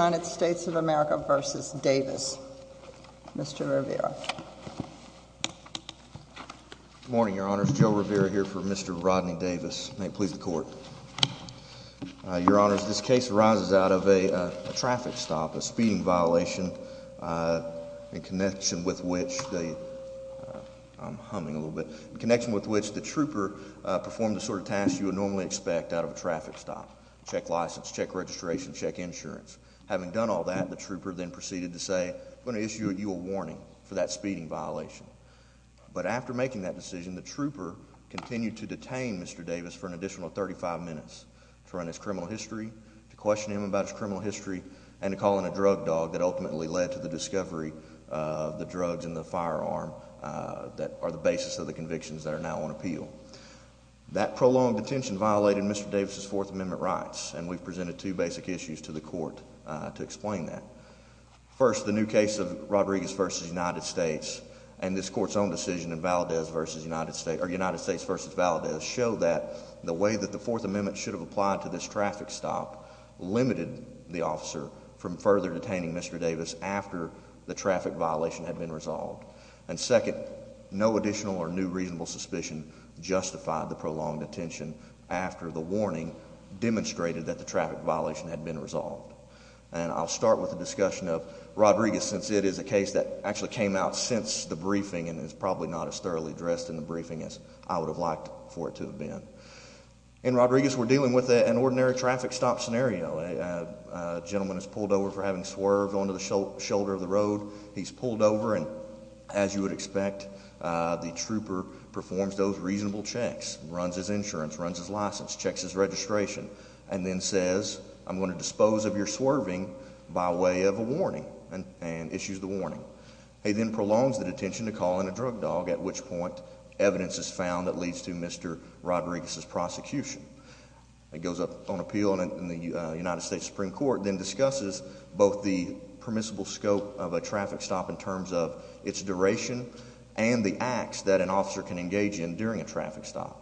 United States of America v. Davis. Mr. Rivera. Morning, Your Honor's Joe Rivera here for Mr. Rodney Davis. May it please the court, Your Honor's. This case arises out of a traffic stop, a speeding violation, uh, in connection with which they I'm humming a little bit connection with which the trooper performed the sort of task you would normally expect out of a traffic stop. Check license, check registration, check insurance. Having done all that, the trooper then proceeded to say, I'm gonna issue you a warning for that speeding violation. But after making that decision, the trooper continued to detain Mr Davis for an additional 35 minutes to run his criminal history, to question him about his criminal history and to call in a drug dog that ultimately led to the discovery of the drugs in the firearm that are the basis of the convictions that are now on appeal. That prolonged detention violated Mr Davis's Fourth Amendment. I have two basic issues to the court to explain that. First, the new case of Rodriguez v. United States and this court's own decision in Valdez v. United States or United States v. Valdez show that the way that the Fourth Amendment should have applied to this traffic stop limited the officer from further detaining Mr Davis after the traffic violation had been resolved. And second, no additional or new reasonable suspicion justified the prolonged attention after the warning demonstrated that the violation had been resolved. And I'll start with the discussion of Rodriguez since it is a case that actually came out since the briefing and it's probably not as thoroughly addressed in the briefing as I would have liked for it to have been in Rodriguez. We're dealing with an ordinary traffic stop scenario. A gentleman has pulled over for having swerved onto the shoulder of the road. He's pulled over and as you would expect, the trooper performs those reasonable checks, runs his insurance, runs his license, checks his I'm going to dispose of your swerving by way of a warning and issues the warning. He then prolongs the detention to call in a drug dog, at which point evidence is found that leads to Mr Rodriguez's prosecution. It goes up on appeal in the United States Supreme Court, then discusses both the permissible scope of a traffic stop in terms of its duration and the acts that an officer can engage in during a traffic stop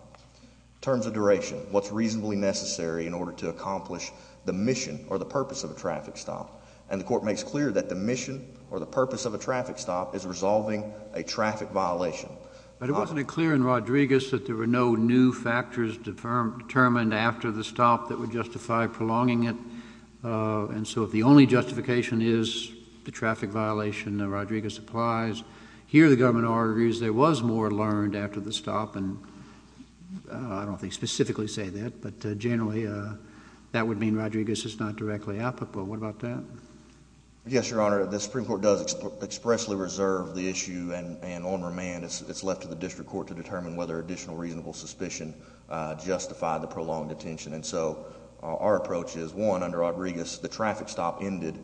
terms of duration. What's accomplished the mission or the purpose of a traffic stop? And the court makes clear that the mission or the purpose of a traffic stop is resolving a traffic violation. But it wasn't clear in Rodriguez that there were no new factors determined determined after the stop that would justify prolonging it. And so if the only justification is the traffic violation, Rodriguez applies here. The government argues there was more learned after the stop, and I don't specifically say that, but generally, uh, that would mean Rodriguez is not directly applicable. What about that? Yes, Your Honor. The Supreme Court does expressly reserve the issue and on remand. It's left to the district court to determine whether additional reasonable suspicion justify the prolonged attention. And so our approach is one under Rodriguez. The traffic stop ended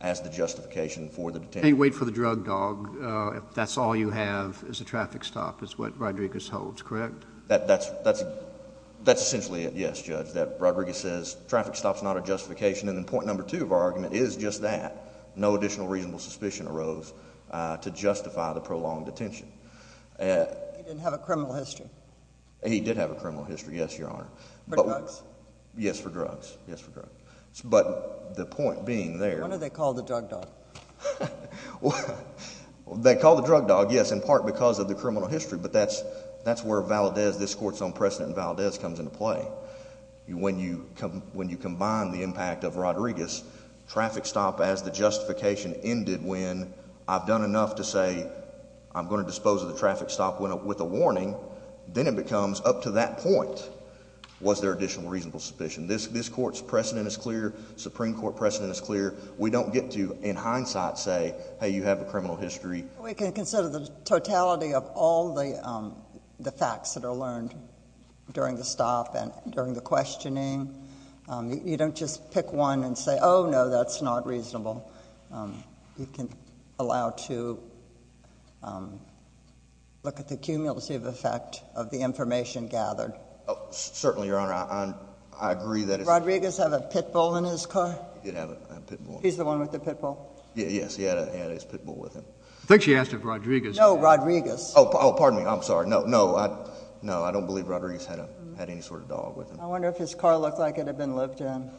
as the justification for the wait for the drug dog. That's all you have is a traffic stop is what Rodriguez holds correct. That's that's that's essentially it. Yes, Judge. That Rodriguez says traffic stops not a justification. And the point number two of our argument is just that no additional reasonable suspicion arose to justify the prolonged attention. Uh, he didn't have a criminal history. He did have a criminal history. Yes, Your Honor. But yes, for drugs. Yes, for drugs. But the point being there, when do they call the drug dog? Well, they call the drug dog. Yes, in part because of the criminal history. But that's that's where Valdez, this court's own precedent. Valdez comes into play when you come when you combine the impact of Rodriguez traffic stop as the justification ended. When I've done enough to say I'm going to dispose of the traffic stop went up with a warning. Then it becomes up to that point. Was there additional reasonable suspicion? This this court's precedent is clear. Supreme Court precedent is clear. We don't get to in hindsight say, Hey, you have a criminal history. We can consider the totality of all the, um, the facts that are learned during the stop. And during the questioning, you don't just pick one and say, Oh, no, that's not reasonable. You can allow to, um, look at the cumulative effect of the information gathered. Certainly, Your Honor. I agree that Rodriguez have a pit bull in his car. You have a pit bull. He's the one with the pit bull. Yes, he had his pit bull with him. I think she asked of Rodriguez. No, Rodriguez. Oh, pardon me. I'm sorry. No, no, no. I don't believe Rodriguez had a had any sort of dog with him. I wonder if his car looked like it had been lived in.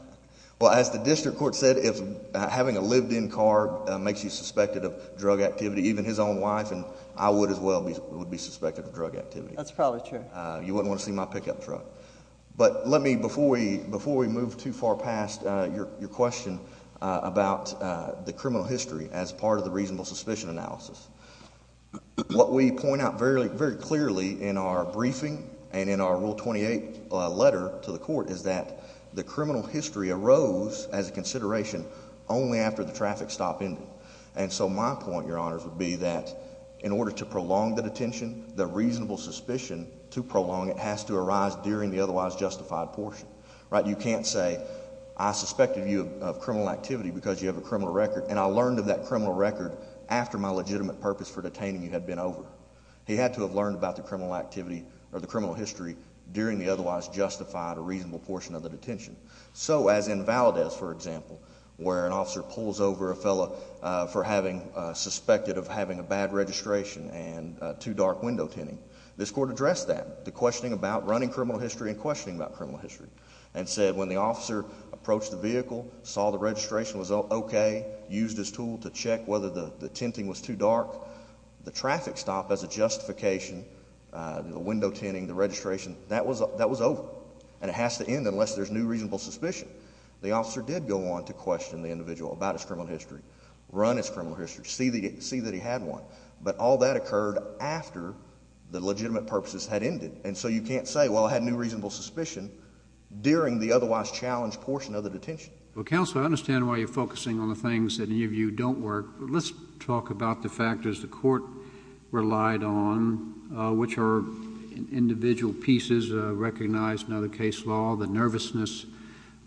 Well, as the district court said, if having a lived in car makes you suspected of drug activity, even his own wife and I would as well be would be suspected of want to see my pickup truck. But let me before we before we move too far past your question about the criminal history as part of the reasonable suspicion analysis, what we point out very, very clearly in our briefing and in our rule 28 letter to the court is that the criminal history arose as a consideration only after the traffic stop in. And so my point, Your Honors, would be that in order to prolong the detention, the reasonable suspicion to prolong, it has to arise during the otherwise justified portion, right? You can't say I suspected you of criminal activity because you have a criminal record. And I learned of that criminal record after my legitimate purpose for detaining you had been over. He had to have learned about the criminal activity or the criminal history during the otherwise justified a reasonable portion of the detention. So as invalid as, for example, where an officer pulls over a fellow for having suspected of having a bad registration and too dark window tinting. This court addressed that the questioning about running criminal history and questioning about criminal history and said when the officer approached the vehicle, saw the registration was okay, used his tool to check whether the tenting was too dark. The traffic stop as a justification, uh, window tinting the registration that was that was over and it has to end unless there's new reasonable suspicion. The officer did go on to question the individual about his criminal history, run its criminal history, see the see that he had one. But all that occurred after the legitimate purposes had ended. And so you can't say, well, I had new reasonable suspicion during the otherwise challenged portion of the detention. Well, counsel, I understand why you're focusing on the things that you don't work. Let's talk about the factors the court relied on, which are individual pieces recognized. Another case law, the nervousness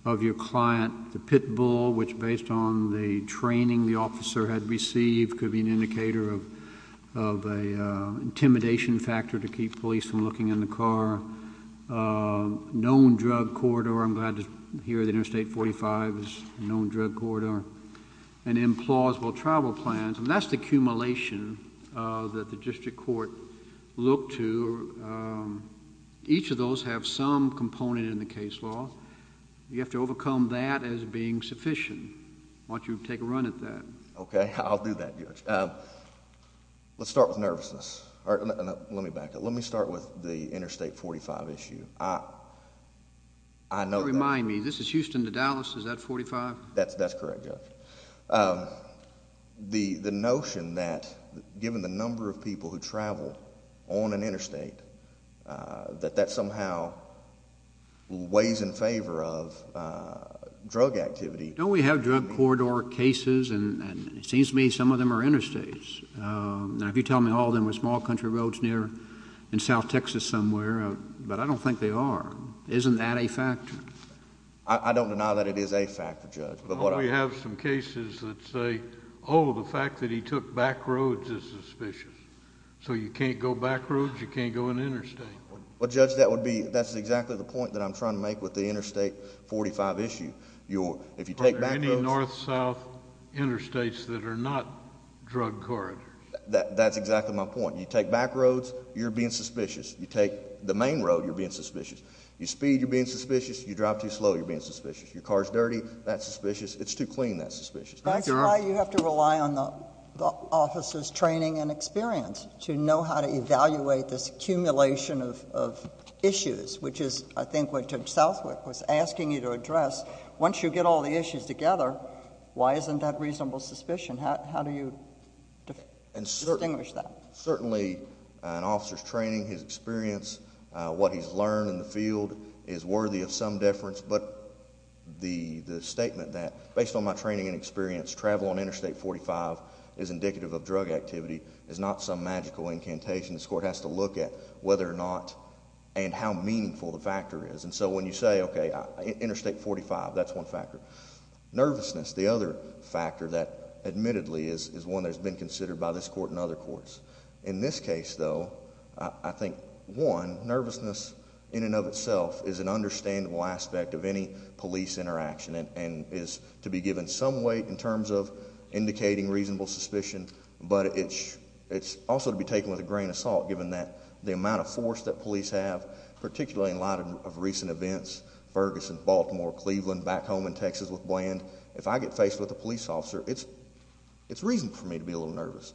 of your client, the pit bull, which, based on the training the officer had received, could be an indicator of of a intimidation factor to keep police from looking in the car. Uh, known drug corridor. I'm glad to hear the interstate 45 is known drug corridor and implausible travel plans. And that's the accumulation that the district court look to. Um, each of those have some component in the case law. You have to overcome that as being sufficient. Why don't you take a run at that? Okay, I'll do that. Let's start with nervousness. Let me back up. Let me start with the interstate 45 issue. I know. Remind me. This is Houston to Dallas. Is that 45? That's that's correct. Um, the notion that given the number of people who travel on an interstate, uh, that that somehow ways in favor of, uh, drug activity. No, we have drug corridor cases, and it seems to me some of them are interstates. Um, if you tell me all of them were small country roads near in South Texas somewhere, but I don't think they are. Isn't that a factor? I don't deny that it is a factor, Judge. But what we have some cases that say, Oh, the fact that he took back roads is suspicious. So you can't go back roads. You can't go in interstate. Well, that's exactly the point that I'm trying to make with the interstate 45 issue. You're if you take back north south interstates that are not drug corridors. That's exactly my point. You take back roads. You're being suspicious. You take the main road. You're being suspicious. You speed. You're being suspicious. You drive too slow. You're being suspicious. Your car's dirty. That's suspicious. It's too clean. That's suspicious. That's why you have to rely on the office's training and experience to know how to which is I think what took Southwick was asking you to address once you get all the issues together. Why isn't that reasonable suspicion? How do you distinguish that? Certainly an officer's training, his experience, what he's learned in the field is worthy of some difference. But the statement that based on my training and experience travel on interstate 45 is indicative of drug activity is not some magical incantation. This court has to look at whether or not and how meaningful the factor is. And so when you say okay, interstate 45, that's one factor nervousness. The other factor that admittedly is is one that has been considered by this court and other courts. In this case, though, I think one nervousness in and of itself is an understandable aspect of any police interaction and is to be given some weight in terms of indicating reasonable suspicion. But it's it's also to be taken with a grain of salt, given that the amount of force that police have, particularly in light of recent events, Ferguson, Baltimore, Cleveland, back home in Texas with bland. If I get faced with the police officer, it's it's reason for me to be a little nervous.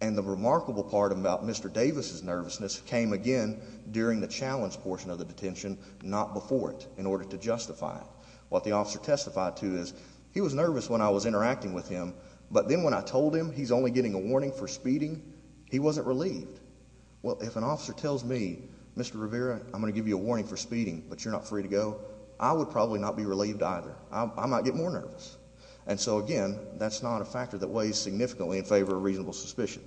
And the remarkable part about Mr Davis's nervousness came again during the challenge portion of the detention, not before it in order to justify what the officer testified to is he was nervous when I was interacting with him. But then when I he wasn't relieved. Well, if an officer tells me Mr Rivera, I'm gonna give you a warning for speeding, but you're not free to go. I would probably not be relieved either. I might get more nervous. And so again, that's not a factor that weighs significantly in favor of reasonable suspicion.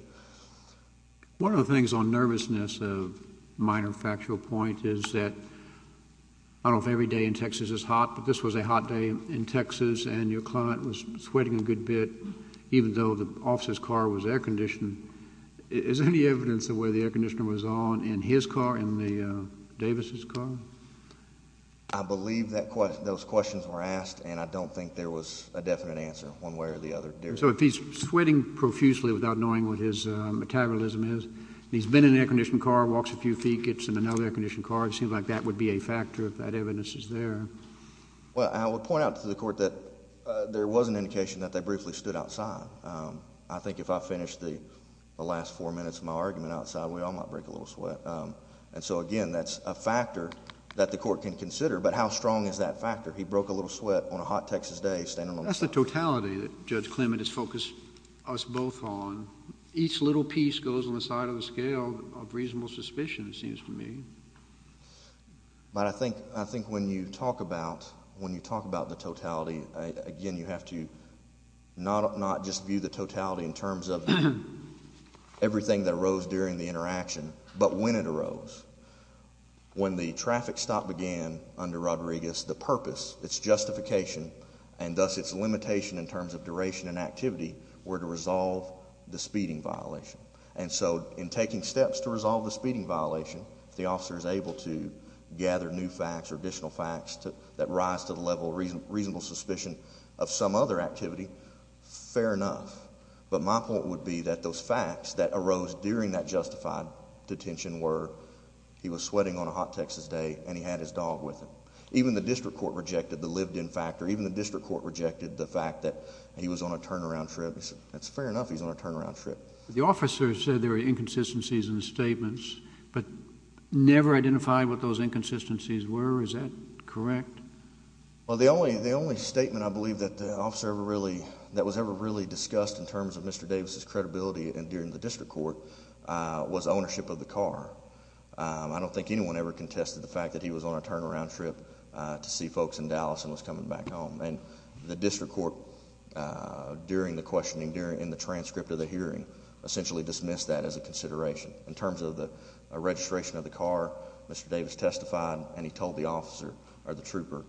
One of the things on nervousness of minor factual point is that I don't every day in Texas is hot, but this was a hot day in Texas and your client was sweating a good bit, even though the officer's car was air conditioned. Is any evidence of where the air conditioner was on in his car in the Davis's car? I believe that those questions were asked, and I don't think there was a definite answer one way or the other. So if he's sweating profusely without knowing what his metabolism is, he's been in air conditioned car walks a few feet, gets in another air conditioned car. It seems like that would be a factor of that evidence is there. Well, I would point out to the court that there was an indication that they briefly stood outside. I think if I finished the last four minutes of my argument outside, we all might break a little sweat. And so again, that's a factor that the court can consider. But how strong is that factor? He broke a little sweat on a hot Texas day standing on the totality that Judge Clement has focused us both on. Each little piece goes on the side of the scale of reasonable suspicion, it seems for me. But I think I think when you talk about when you talk about the totality again, you have to not not just view the totality in terms of everything that rose during the interaction, but when it arose when the traffic stop began under Rodriguez, the purpose, its justification and thus its limitation in terms of duration and activity were to resolve the speeding violation. And so in taking steps to resolve the speeding violation, the officer is able to gather new facts or additional facts that rise to the level reasonable suspicion of some other activity. Fair enough. But my point would be that those facts that arose during that justified detention were he was sweating on a hot Texas day and he had his dog with him. Even the district court rejected the lived in factor. Even the district court rejected the fact that he was on a turnaround trip. That's fair enough. He's on a turnaround trip. The officer said there were inconsistencies in the statements, but never identified what those inconsistencies were. Is that correct? Well, the only the only statement I believe that the officer really that was ever really discussed in terms of Mr Davis's credibility and during the district court was ownership of the car. I don't think anyone ever contested the fact that he was on a turnaround trip to see folks in Dallas and was coming back home. And the district court, uh, during the questioning during in the transcript of the hearing, essentially dismissed that as a consideration in terms of the registration of the car. Mr Davis testified, and he told the officer or the trooper,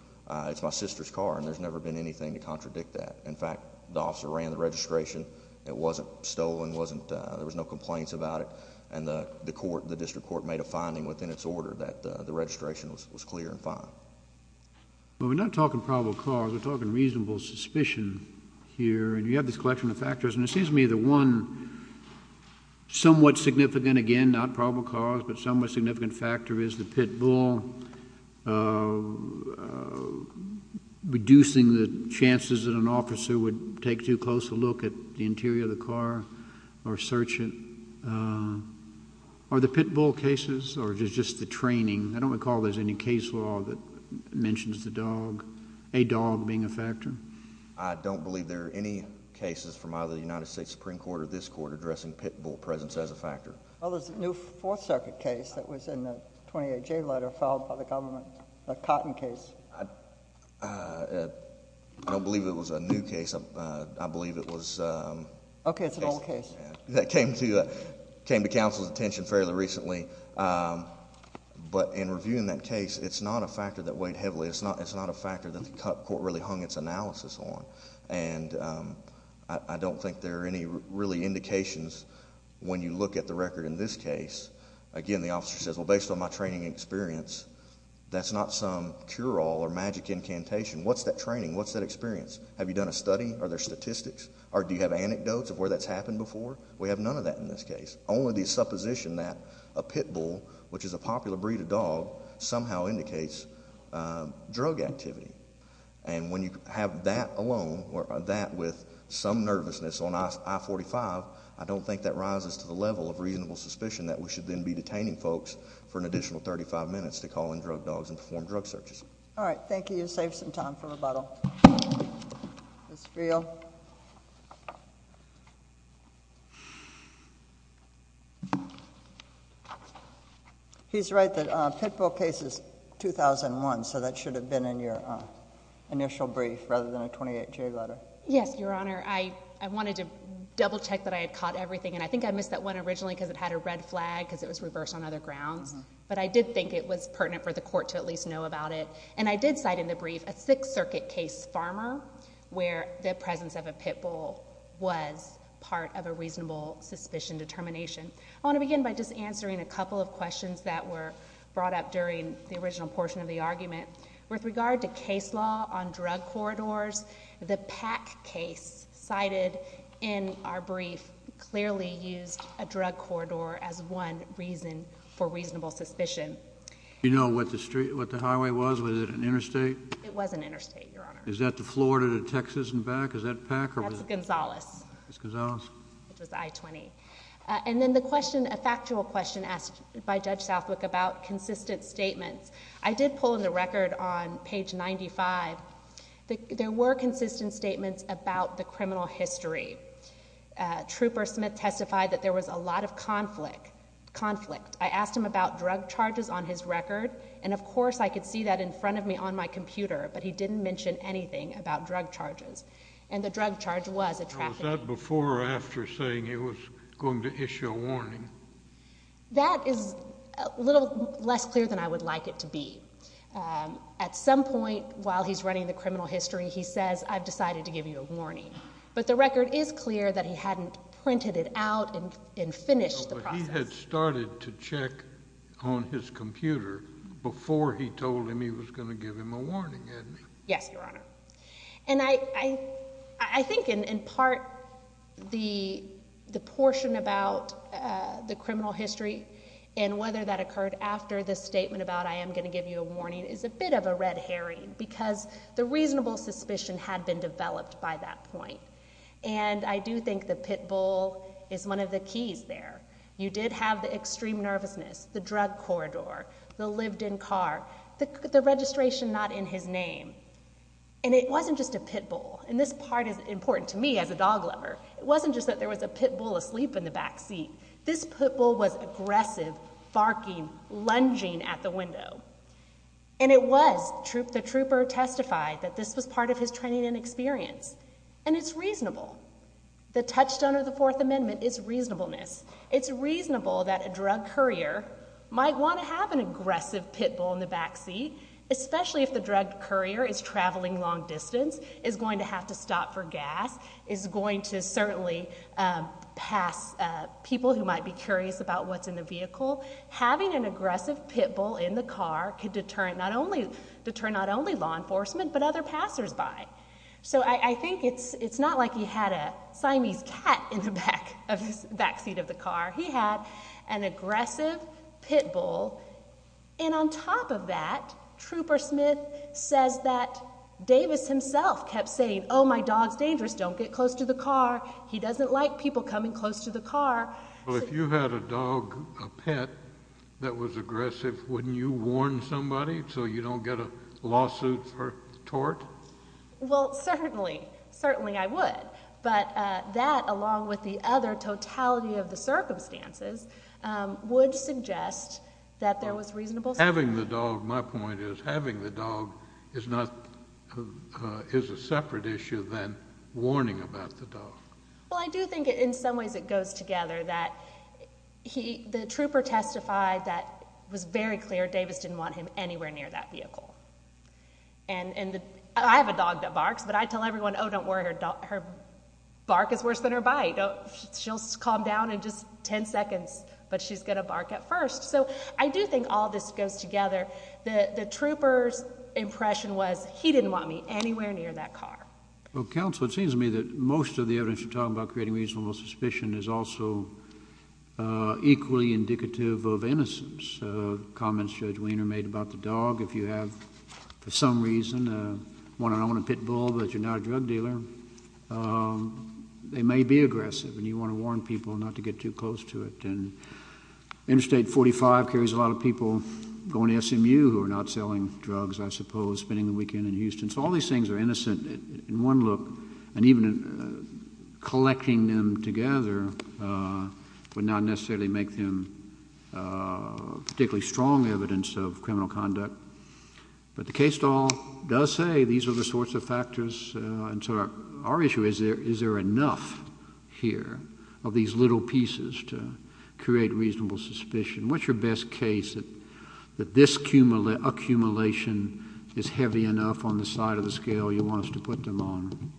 it's my sister's car, and there's never been anything to contradict that. In fact, the officer ran the registration. It wasn't stolen. Wasn't there was no complaints about it. And the court, the district court made a finding within its order that the registration was clear and fine. We're not talking probable cause. We're talking reasonable suspicion here, and you have this collection of factors, and it seems to me that one somewhat significant again, not probable cause, but somewhat significant factor is the pit bull. Uh uh, reducing the chances that an officer would take too close a look at the interior of the car or search it. Uh, are the pit bull cases or just just the training? I don't recall. There's any case law that mentions the dog, a dog being a factor. I don't believe there are any cases from either the United States Supreme Court or this court addressing pit bull presence as a factor. Well, there's a new Fourth Circuit case that was in the 28 J letter filed by the government. A cotton case. Uh, I don't believe it was a new case. I believe it was, um, okay, it's an old case that came to came to council's attention fairly recently. Um, but in reviewing that case, it's not a factor that weighed heavily. It's not. It's not a factor that the court really hung its analysis on. And, um, I don't think there are any really indications when you look at the record in this case again, the officer says, well, based on my training experience, that's not some cure all or magic incantation. What's that training? What's that experience? Have you done a study? Are there statistics? Or do you have anecdotes of where that's happened before? We have none of that. In this case, only the supposition that a pit bull, which is a popular breed of dog, somehow indicates drug activity. And when you have that alone or that with some nervousness on I 45, I don't think that rises to the level of reasonable suspicion that we should then be detaining folks for an additional 35 minutes to call in drug dogs and perform drug searches. All right. Thank you. You save some time for rebuttal. It's real. He's right that Pitbull cases 2001. So that should have been in your initial brief rather than a 28 year letter. Yes, Your Honor. I wanted to double check that I had caught everything, and I think I missed that one originally because it had a red flag because it was reversed on other grounds. But I did think it was pertinent for the court to at least know about it. And I did cite in the brief a Sixth Circuit case farmer where the presence of a pit bull was part of a reasonable suspicion determination. I want to begin by just answering a couple of questions that were brought up during the original portion of the argument with regard to case law on drug corridors. The pack case cited in our brief clearly used a drug corridor as one reason for reasonable suspicion. You know what the street, what the highway was. Was it an interstate? It was an interstate. Your Honor. Is that the Florida to Texas and back? Is that Packer? That's Gonzalez. It's Gonzalez. It was I 20. And then the question, a factual question asked by Judge Southwick about consistent statements. I did pull in the record on page 95. There were consistent statements about the criminal history. Trooper Smith testified that there was a lot of conflict conflict. I asked him about drug charges on his record, and, of course, I could see that in front of me on my computer. But he didn't mention anything about drug charges, and the drug charge was a traffic before or after saying it was going to issue a warning. That is a little less clear than I would like it to be. Um, at some point, while he's running the criminal history, he says, I've decided to give you a warning. But the record is clear that he hadn't printed it out and finished the process had started to check on his computer before he told him he was going to give him a warning. Yes, Your Honor. And I I think in part the the portion about the criminal history and whether that occurred after the statement about I am going to give you a warning is a bit of a red herring because the reasonable suspicion had been developed by that point. And I do think the pit bull is one of the keys there. You did have the extreme nervousness, the drug corridor, the lived in car, the registration not in his name. And it wasn't just a pit bull. And this part is important to me as a dog lover. It wasn't just that there was a pit bull asleep in the back seat. This pit bull was aggressive, barking, lunging at the window. And it was troop. The trooper testified that this was part of his training and experience, and it's reasonable. The touchstone of the Fourth Amendment is reasonableness. It's reasonable that a pit bull in the back seat, especially if the drug courier is traveling long distance, is going to have to stop for gas, is going to certainly pass people who might be curious about what's in the vehicle. Having an aggressive pit bull in the car could deterrent not only deter not only law enforcement, but other passers by. So I think it's it's not like he had a Siamese cat in the back of his back seat of the car. He had an aggressive pit bull. And on top of that, Trooper Smith says that Davis himself kept saying, Oh, my dog's dangerous. Don't get close to the car. He doesn't like people coming close to the car. Well, if you had a dog pet that was aggressive, wouldn't you warn somebody so you don't get a lawsuit for tort? Well, certainly, certainly I would. But that, along with the other totality of the circumstances, would suggest that there was reasonable having the dog. My point is having the dog is not is a separate issue than warning about the dog. Well, I do think in some ways it goes together that he the trooper testified that was very clear Davis didn't want him anywhere near that vehicle. And I have a dog that her bark is worse than her bite. She'll calm down in just 10 seconds, but she's gonna bark at first. So I do think all this goes together. The troopers impression was he didn't want me anywhere near that car. Well, counsel, it seems to me that most of the evidence you're talking about creating reasonable suspicion is also equally indicative of innocence. Comments Judge Weiner made about the dog. If you have for some reason, uh, one on a pit all that you're not a drug dealer. Um, they may be aggressive, and you want to warn people not to get too close to it. And Interstate 45 carries a lot of people going to SMU who are not selling drugs, I suppose, spending the weekend in Houston. So all these things are innocent in one look, and even collecting them together, uh, would not necessarily make them, uh, particularly strong evidence of criminal conduct. But the case stall does say these are the sorts of factors. And so our issue is there. Is there enough here of these little pieces to create reasonable suspicion? What's your best case that that this cumulative accumulation is heavy enough on the side of the scale? You want us to put them on?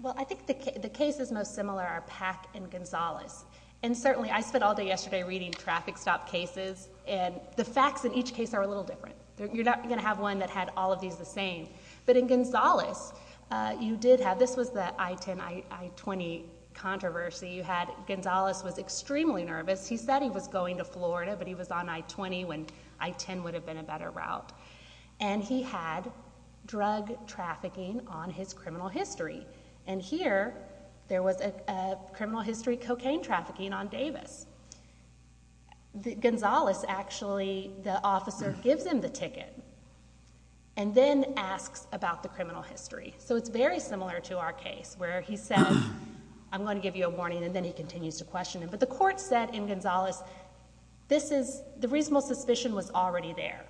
Well, I think the case is most similar. Our pack and Gonzalez and certainly I spent all day yesterday reading traffic stop cases, and the facts in each case are a little different. You're not gonna have one that had all of these the same. But in Gonzalez, you did have this was that I 10 I 20 controversy you had. Gonzalez was extremely nervous. He said he was going to Florida, but he was on I 20 when I 10 would have been a better route. And he had drug trafficking on his criminal history. And here there was a criminal history cocaine trafficking on Davis. Gonzalez. Actually, the officer gives him the ticket and then asks about the criminal history. So it's very similar to our case where he said, I'm gonna give you a warning, and then he continues to question him. But the court said in Gonzalez, this is the reasonable suspicion was already there.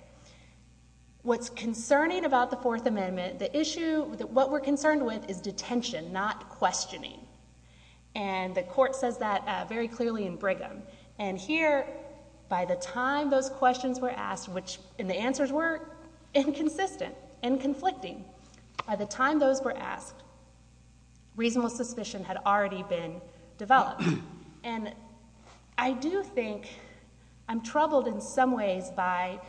What's concerning about the Fourth Amendment? The issue that what we're concerned with is detention, not questioning. And the court says that very clearly in Brigham and here by the time those questions were asked, which in the answers were inconsistent and conflicting by the time those were asked, reasonable suspicion had already been developed. And I do think I'm troubled in some ways by,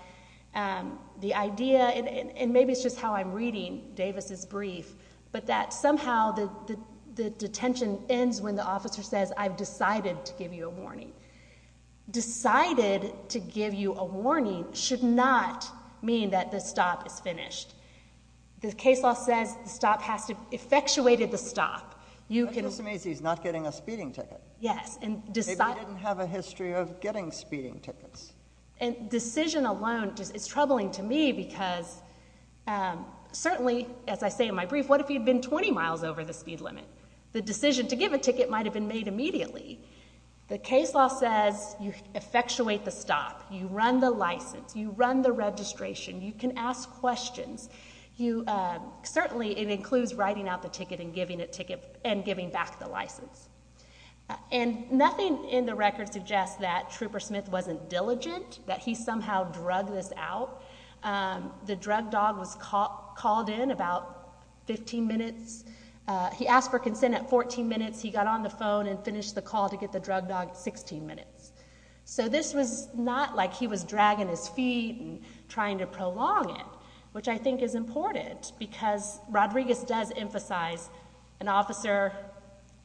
um, the idea and maybe it's just how I'm reading Davis is brief, but that somehow the detention ends when the officer says I've decided to give you a warning. Decided to give you a warning should not mean that the stop is finished. The case law says the stop has to effectuated the stop. You can just amaze. He's not getting a speeding ticket. Yes. And decide. I didn't have a history of getting speeding tickets and decision alone. It's troubling to me because, um, certainly, as I say in my brief, what if you've been 20 miles over the speed limit? The decision to give a the case law says you effectuate the stop. You run the license. You run the registration. You can ask questions. You certainly it includes writing out the ticket and giving a ticket and giving back the license. And nothing in the record suggests that Trooper Smith wasn't diligent that he somehow drug this out. Um, the drug dog was called in about 15 minutes. He asked for to get the drug dog 16 minutes. So this was not like he was dragging his feet and trying to prolong it, which I think is important because Rodriguez does emphasize an officer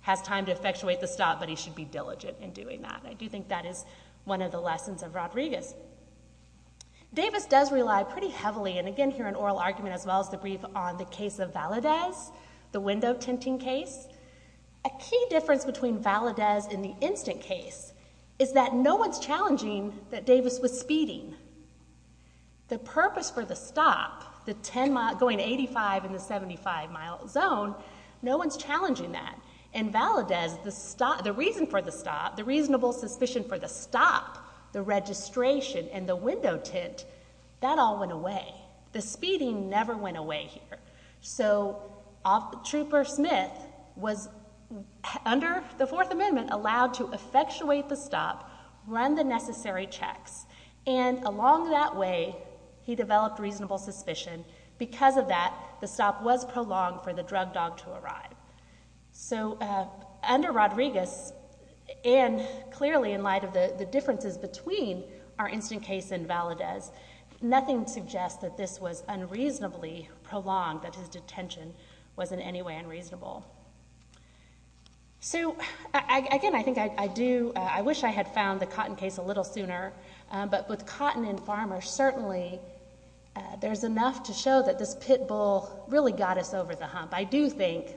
has time to effectuate the stop, but he should be diligent in doing that. I do think that is one of the lessons of Rodriguez. Davis does rely pretty heavily and again here in oral argument as well as the brief on the case of Valadez, the window tinting case. A key difference between Valadez in the instant case is that no one's challenging that Davis was speeding the purpose for the stop. The 10 going 85 in the 75 mile zone. No one's challenging that. And Valadez, the stop the reason for the stop, the reasonable suspicion for the stop, the registration and the window tint that all went away. The speeding never went away here. So off Trooper Smith was under the Fourth Amendment, allowed to effectuate the stop, run the necessary checks. And along that way, he developed reasonable suspicion. Because of that, the stop was prolonged for the drug dog to arrive. So, uh, under Rodriguez and clearly in light of the differences between our instant case and Valadez, nothing suggests that this was unreasonably prolonged, that his so again, I think I do. I wish I had found the cotton case a little sooner. But with cotton and farmer, certainly there's enough to show that this pit bull really got us over the hump. I do think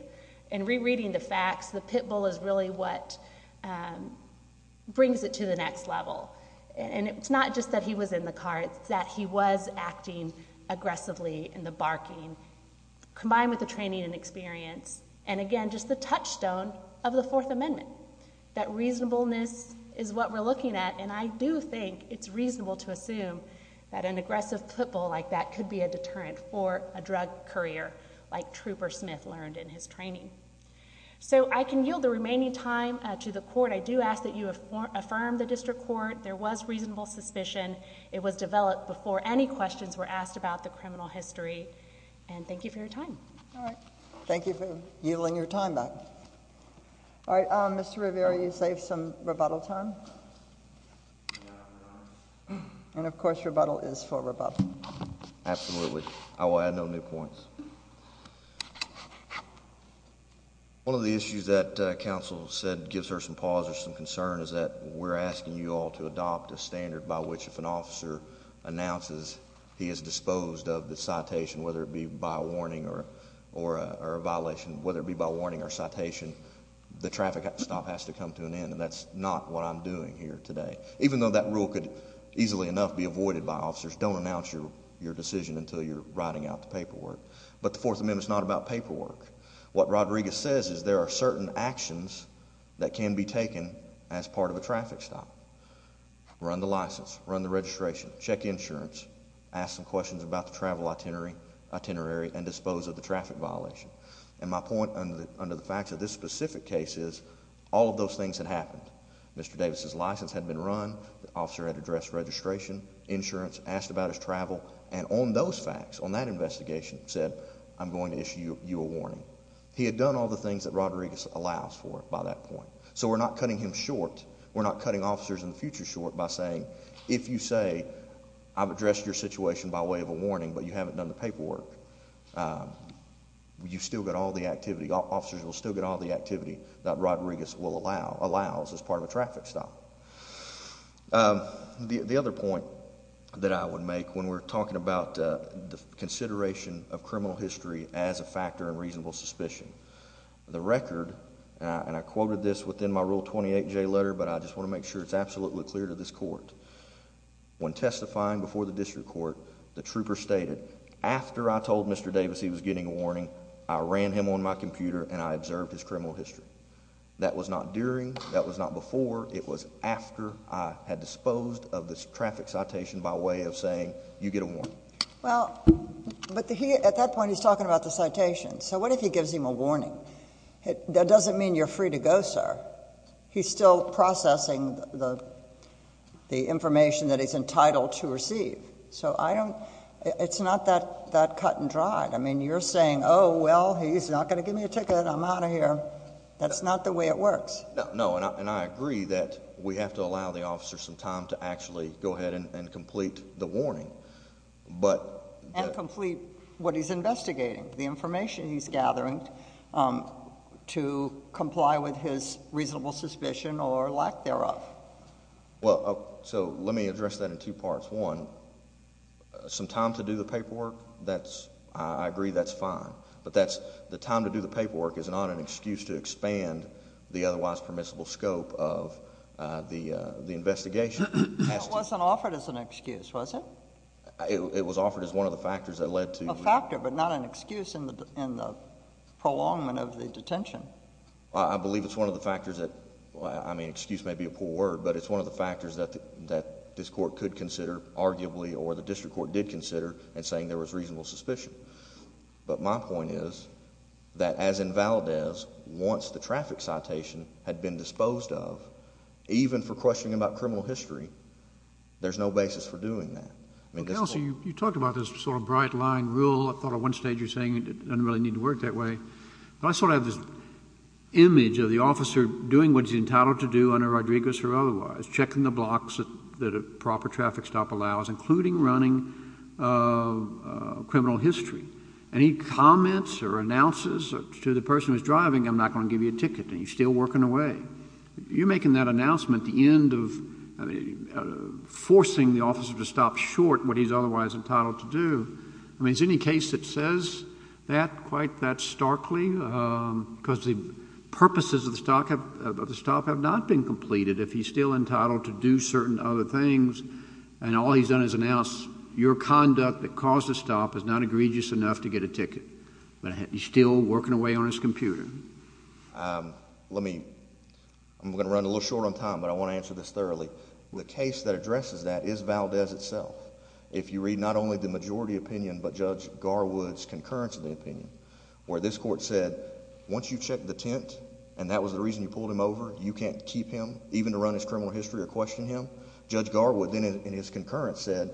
in rereading the facts, the pit bull is really what brings it to the next level. And it's not just that he was in the car. It's that he was acting aggressively in the barking combined with the training and and again, just the touchstone of the Fourth Amendment. That reasonableness is what we're looking at. And I do think it's reasonable to assume that an aggressive football like that could be a deterrent for a drug courier like Trooper Smith learned in his training. So I can yield the remaining time to the court. I do ask that you have affirmed the district court. There was reasonable suspicion. It was developed before any questions were asked about the criminal history. And thank you for your time. All right. Thank you for yielding your time back. All right, Mr Rivera, you save some rebuttal time. And of course, rebuttal is for rebuttal. Absolutely. I will add no new points. One of the issues that council said gives her some pauses. Some concern is that we're asking you all to adopt a standard by which if an officer announces he is disposed of the citation, whether it be by warning or or a violation, whether it be by warning or citation, the traffic stop has to come to an end. And that's not what I'm doing here today. Even though that rule could easily enough be avoided by officers, don't announce your your decision until you're writing out the paperwork. But the Fourth Amendment is not about paperwork. What Rodriguez says is there are certain actions that can be taken as part of a traffic stop. Run the license, run the registration, check insurance, ask some questions about the travel itinerary itinerary and dispose of the traffic violation. And my point under the fact that this specific case is all of those things that happened. Mr Davis's license had been run. The officer had addressed registration insurance, asked about his travel and on those facts on that investigation said I'm going to issue you a warning. He had done all the things that Rodriguez allows for by that point. So we're not cutting him in the future short by saying if you say I've addressed your situation by way of a warning, but you haven't done the paperwork, you still got all the activity officers will still get all the activity that Rodriguez will allow allows as part of a traffic stop. Um, the other point that I would make when we're talking about the consideration of criminal history as a factor in reasonable suspicion, the record and I quoted this within my rule 28 J letter. But I just wanna make sure it's absolutely clear to this court when testifying before the district court, the trooper stated after I told Mr Davis he was getting a warning. I ran him on my computer and I observed his criminal history. That was not during. That was not before. It was after I had disposed of this traffic citation by way of saying you get a warning. Well, but at that point he's talking about the citation. So what if he gives him a warning? That still processing the the information that is entitled to receive. So I don't. It's not that that cut and dried. I mean, you're saying, Oh, well, he's not gonna give me a ticket. I'm out of here. That's not the way it works. No. And I agree that we have to allow the officer some time to actually go ahead and complete the warning, but complete what he's investigating the information he's or lack thereof. Well, so let me address that in two parts. One some time to do the paperwork. That's I agree. That's fine. But that's the time to do. The paperwork is not an excuse to expand the otherwise permissible scope of, uh, the investigation wasn't offered as an excuse. Wasn't it was offered as one of the factors that led to a factor, but not an excuse in the in the prolongment of the detention. I believe it's one of the factors that I mean, excuse may be a poor word, but it's one of the factors that that this court could consider, arguably, or the district court did consider and saying there was reasonable suspicion. But my point is that as in Valdez, once the traffic citation had been disposed of, even for questioning about criminal history, there's no basis for doing that. You talked about this sort of bright line rule. I thought of one stage. You're saying it doesn't really need to work that way. But I sort of this image of the officer doing what's entitled to do on a Rodriguez or otherwise checking the blocks that proper traffic stop allows, including running, uh, criminal history. Any comments or announces to the person who's driving? I'm not gonna give you a ticket. He's still working away. You're making that announcement. The end of, uh, forcing the officer to stop short what he's otherwise entitled to do. I mean, is any case that says that quite that starkly? Um, because the purposes of the stock of the stop have not been completed. If he's still entitled to do certain other things, and all he's done is announce your conduct that caused a stop is not egregious enough to get a ticket, but he's still working away on his computer. Um, let me I'm gonna run a little short on time, but I want to answer this thoroughly. The case that addresses that is Valdez itself. If you read not only the majority opinion, but Judge Garwood's concurrence of the opinion where this court said once you check the tent and that was the reason you pulled him over, you can't keep him even to run his criminal history or question him. Judge Garwood, then in his concurrence, said,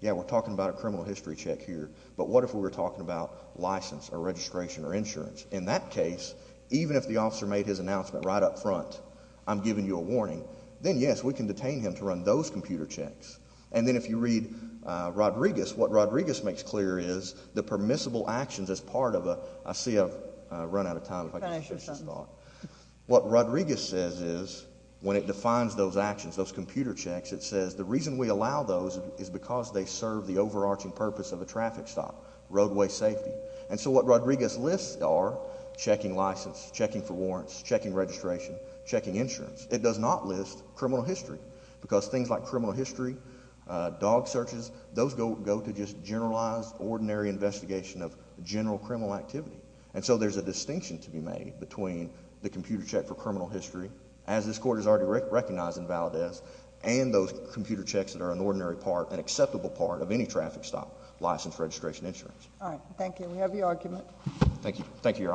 Yeah, we're talking about a criminal history check here. But what if we were talking about license or registration or insurance? In that case, even if the officer made his announcement right up front, I'm giving you a warning. Then, yes, we can detain him to run those computer checks. And the permissible actions as part of a I see a run out of time. What Rodriguez says is when it defines those actions, those computer checks, it says the reason we allow those is because they serve the overarching purpose of a traffic stop roadway safety. And so what Rodriguez lists are checking license, checking for warrants, checking registration, checking insurance. It does not list criminal history because things like criminal history, dog searches, those go go to just generalized ordinary investigation of general criminal activity. And so there's a distinction to be made between the computer check for criminal history, as this court is already recognized in Valdez and those computer checks that are an ordinary part, an acceptable part of any traffic stop license registration insurance. Thank you. We have your argument. Thank you. Thank you, Your Honor.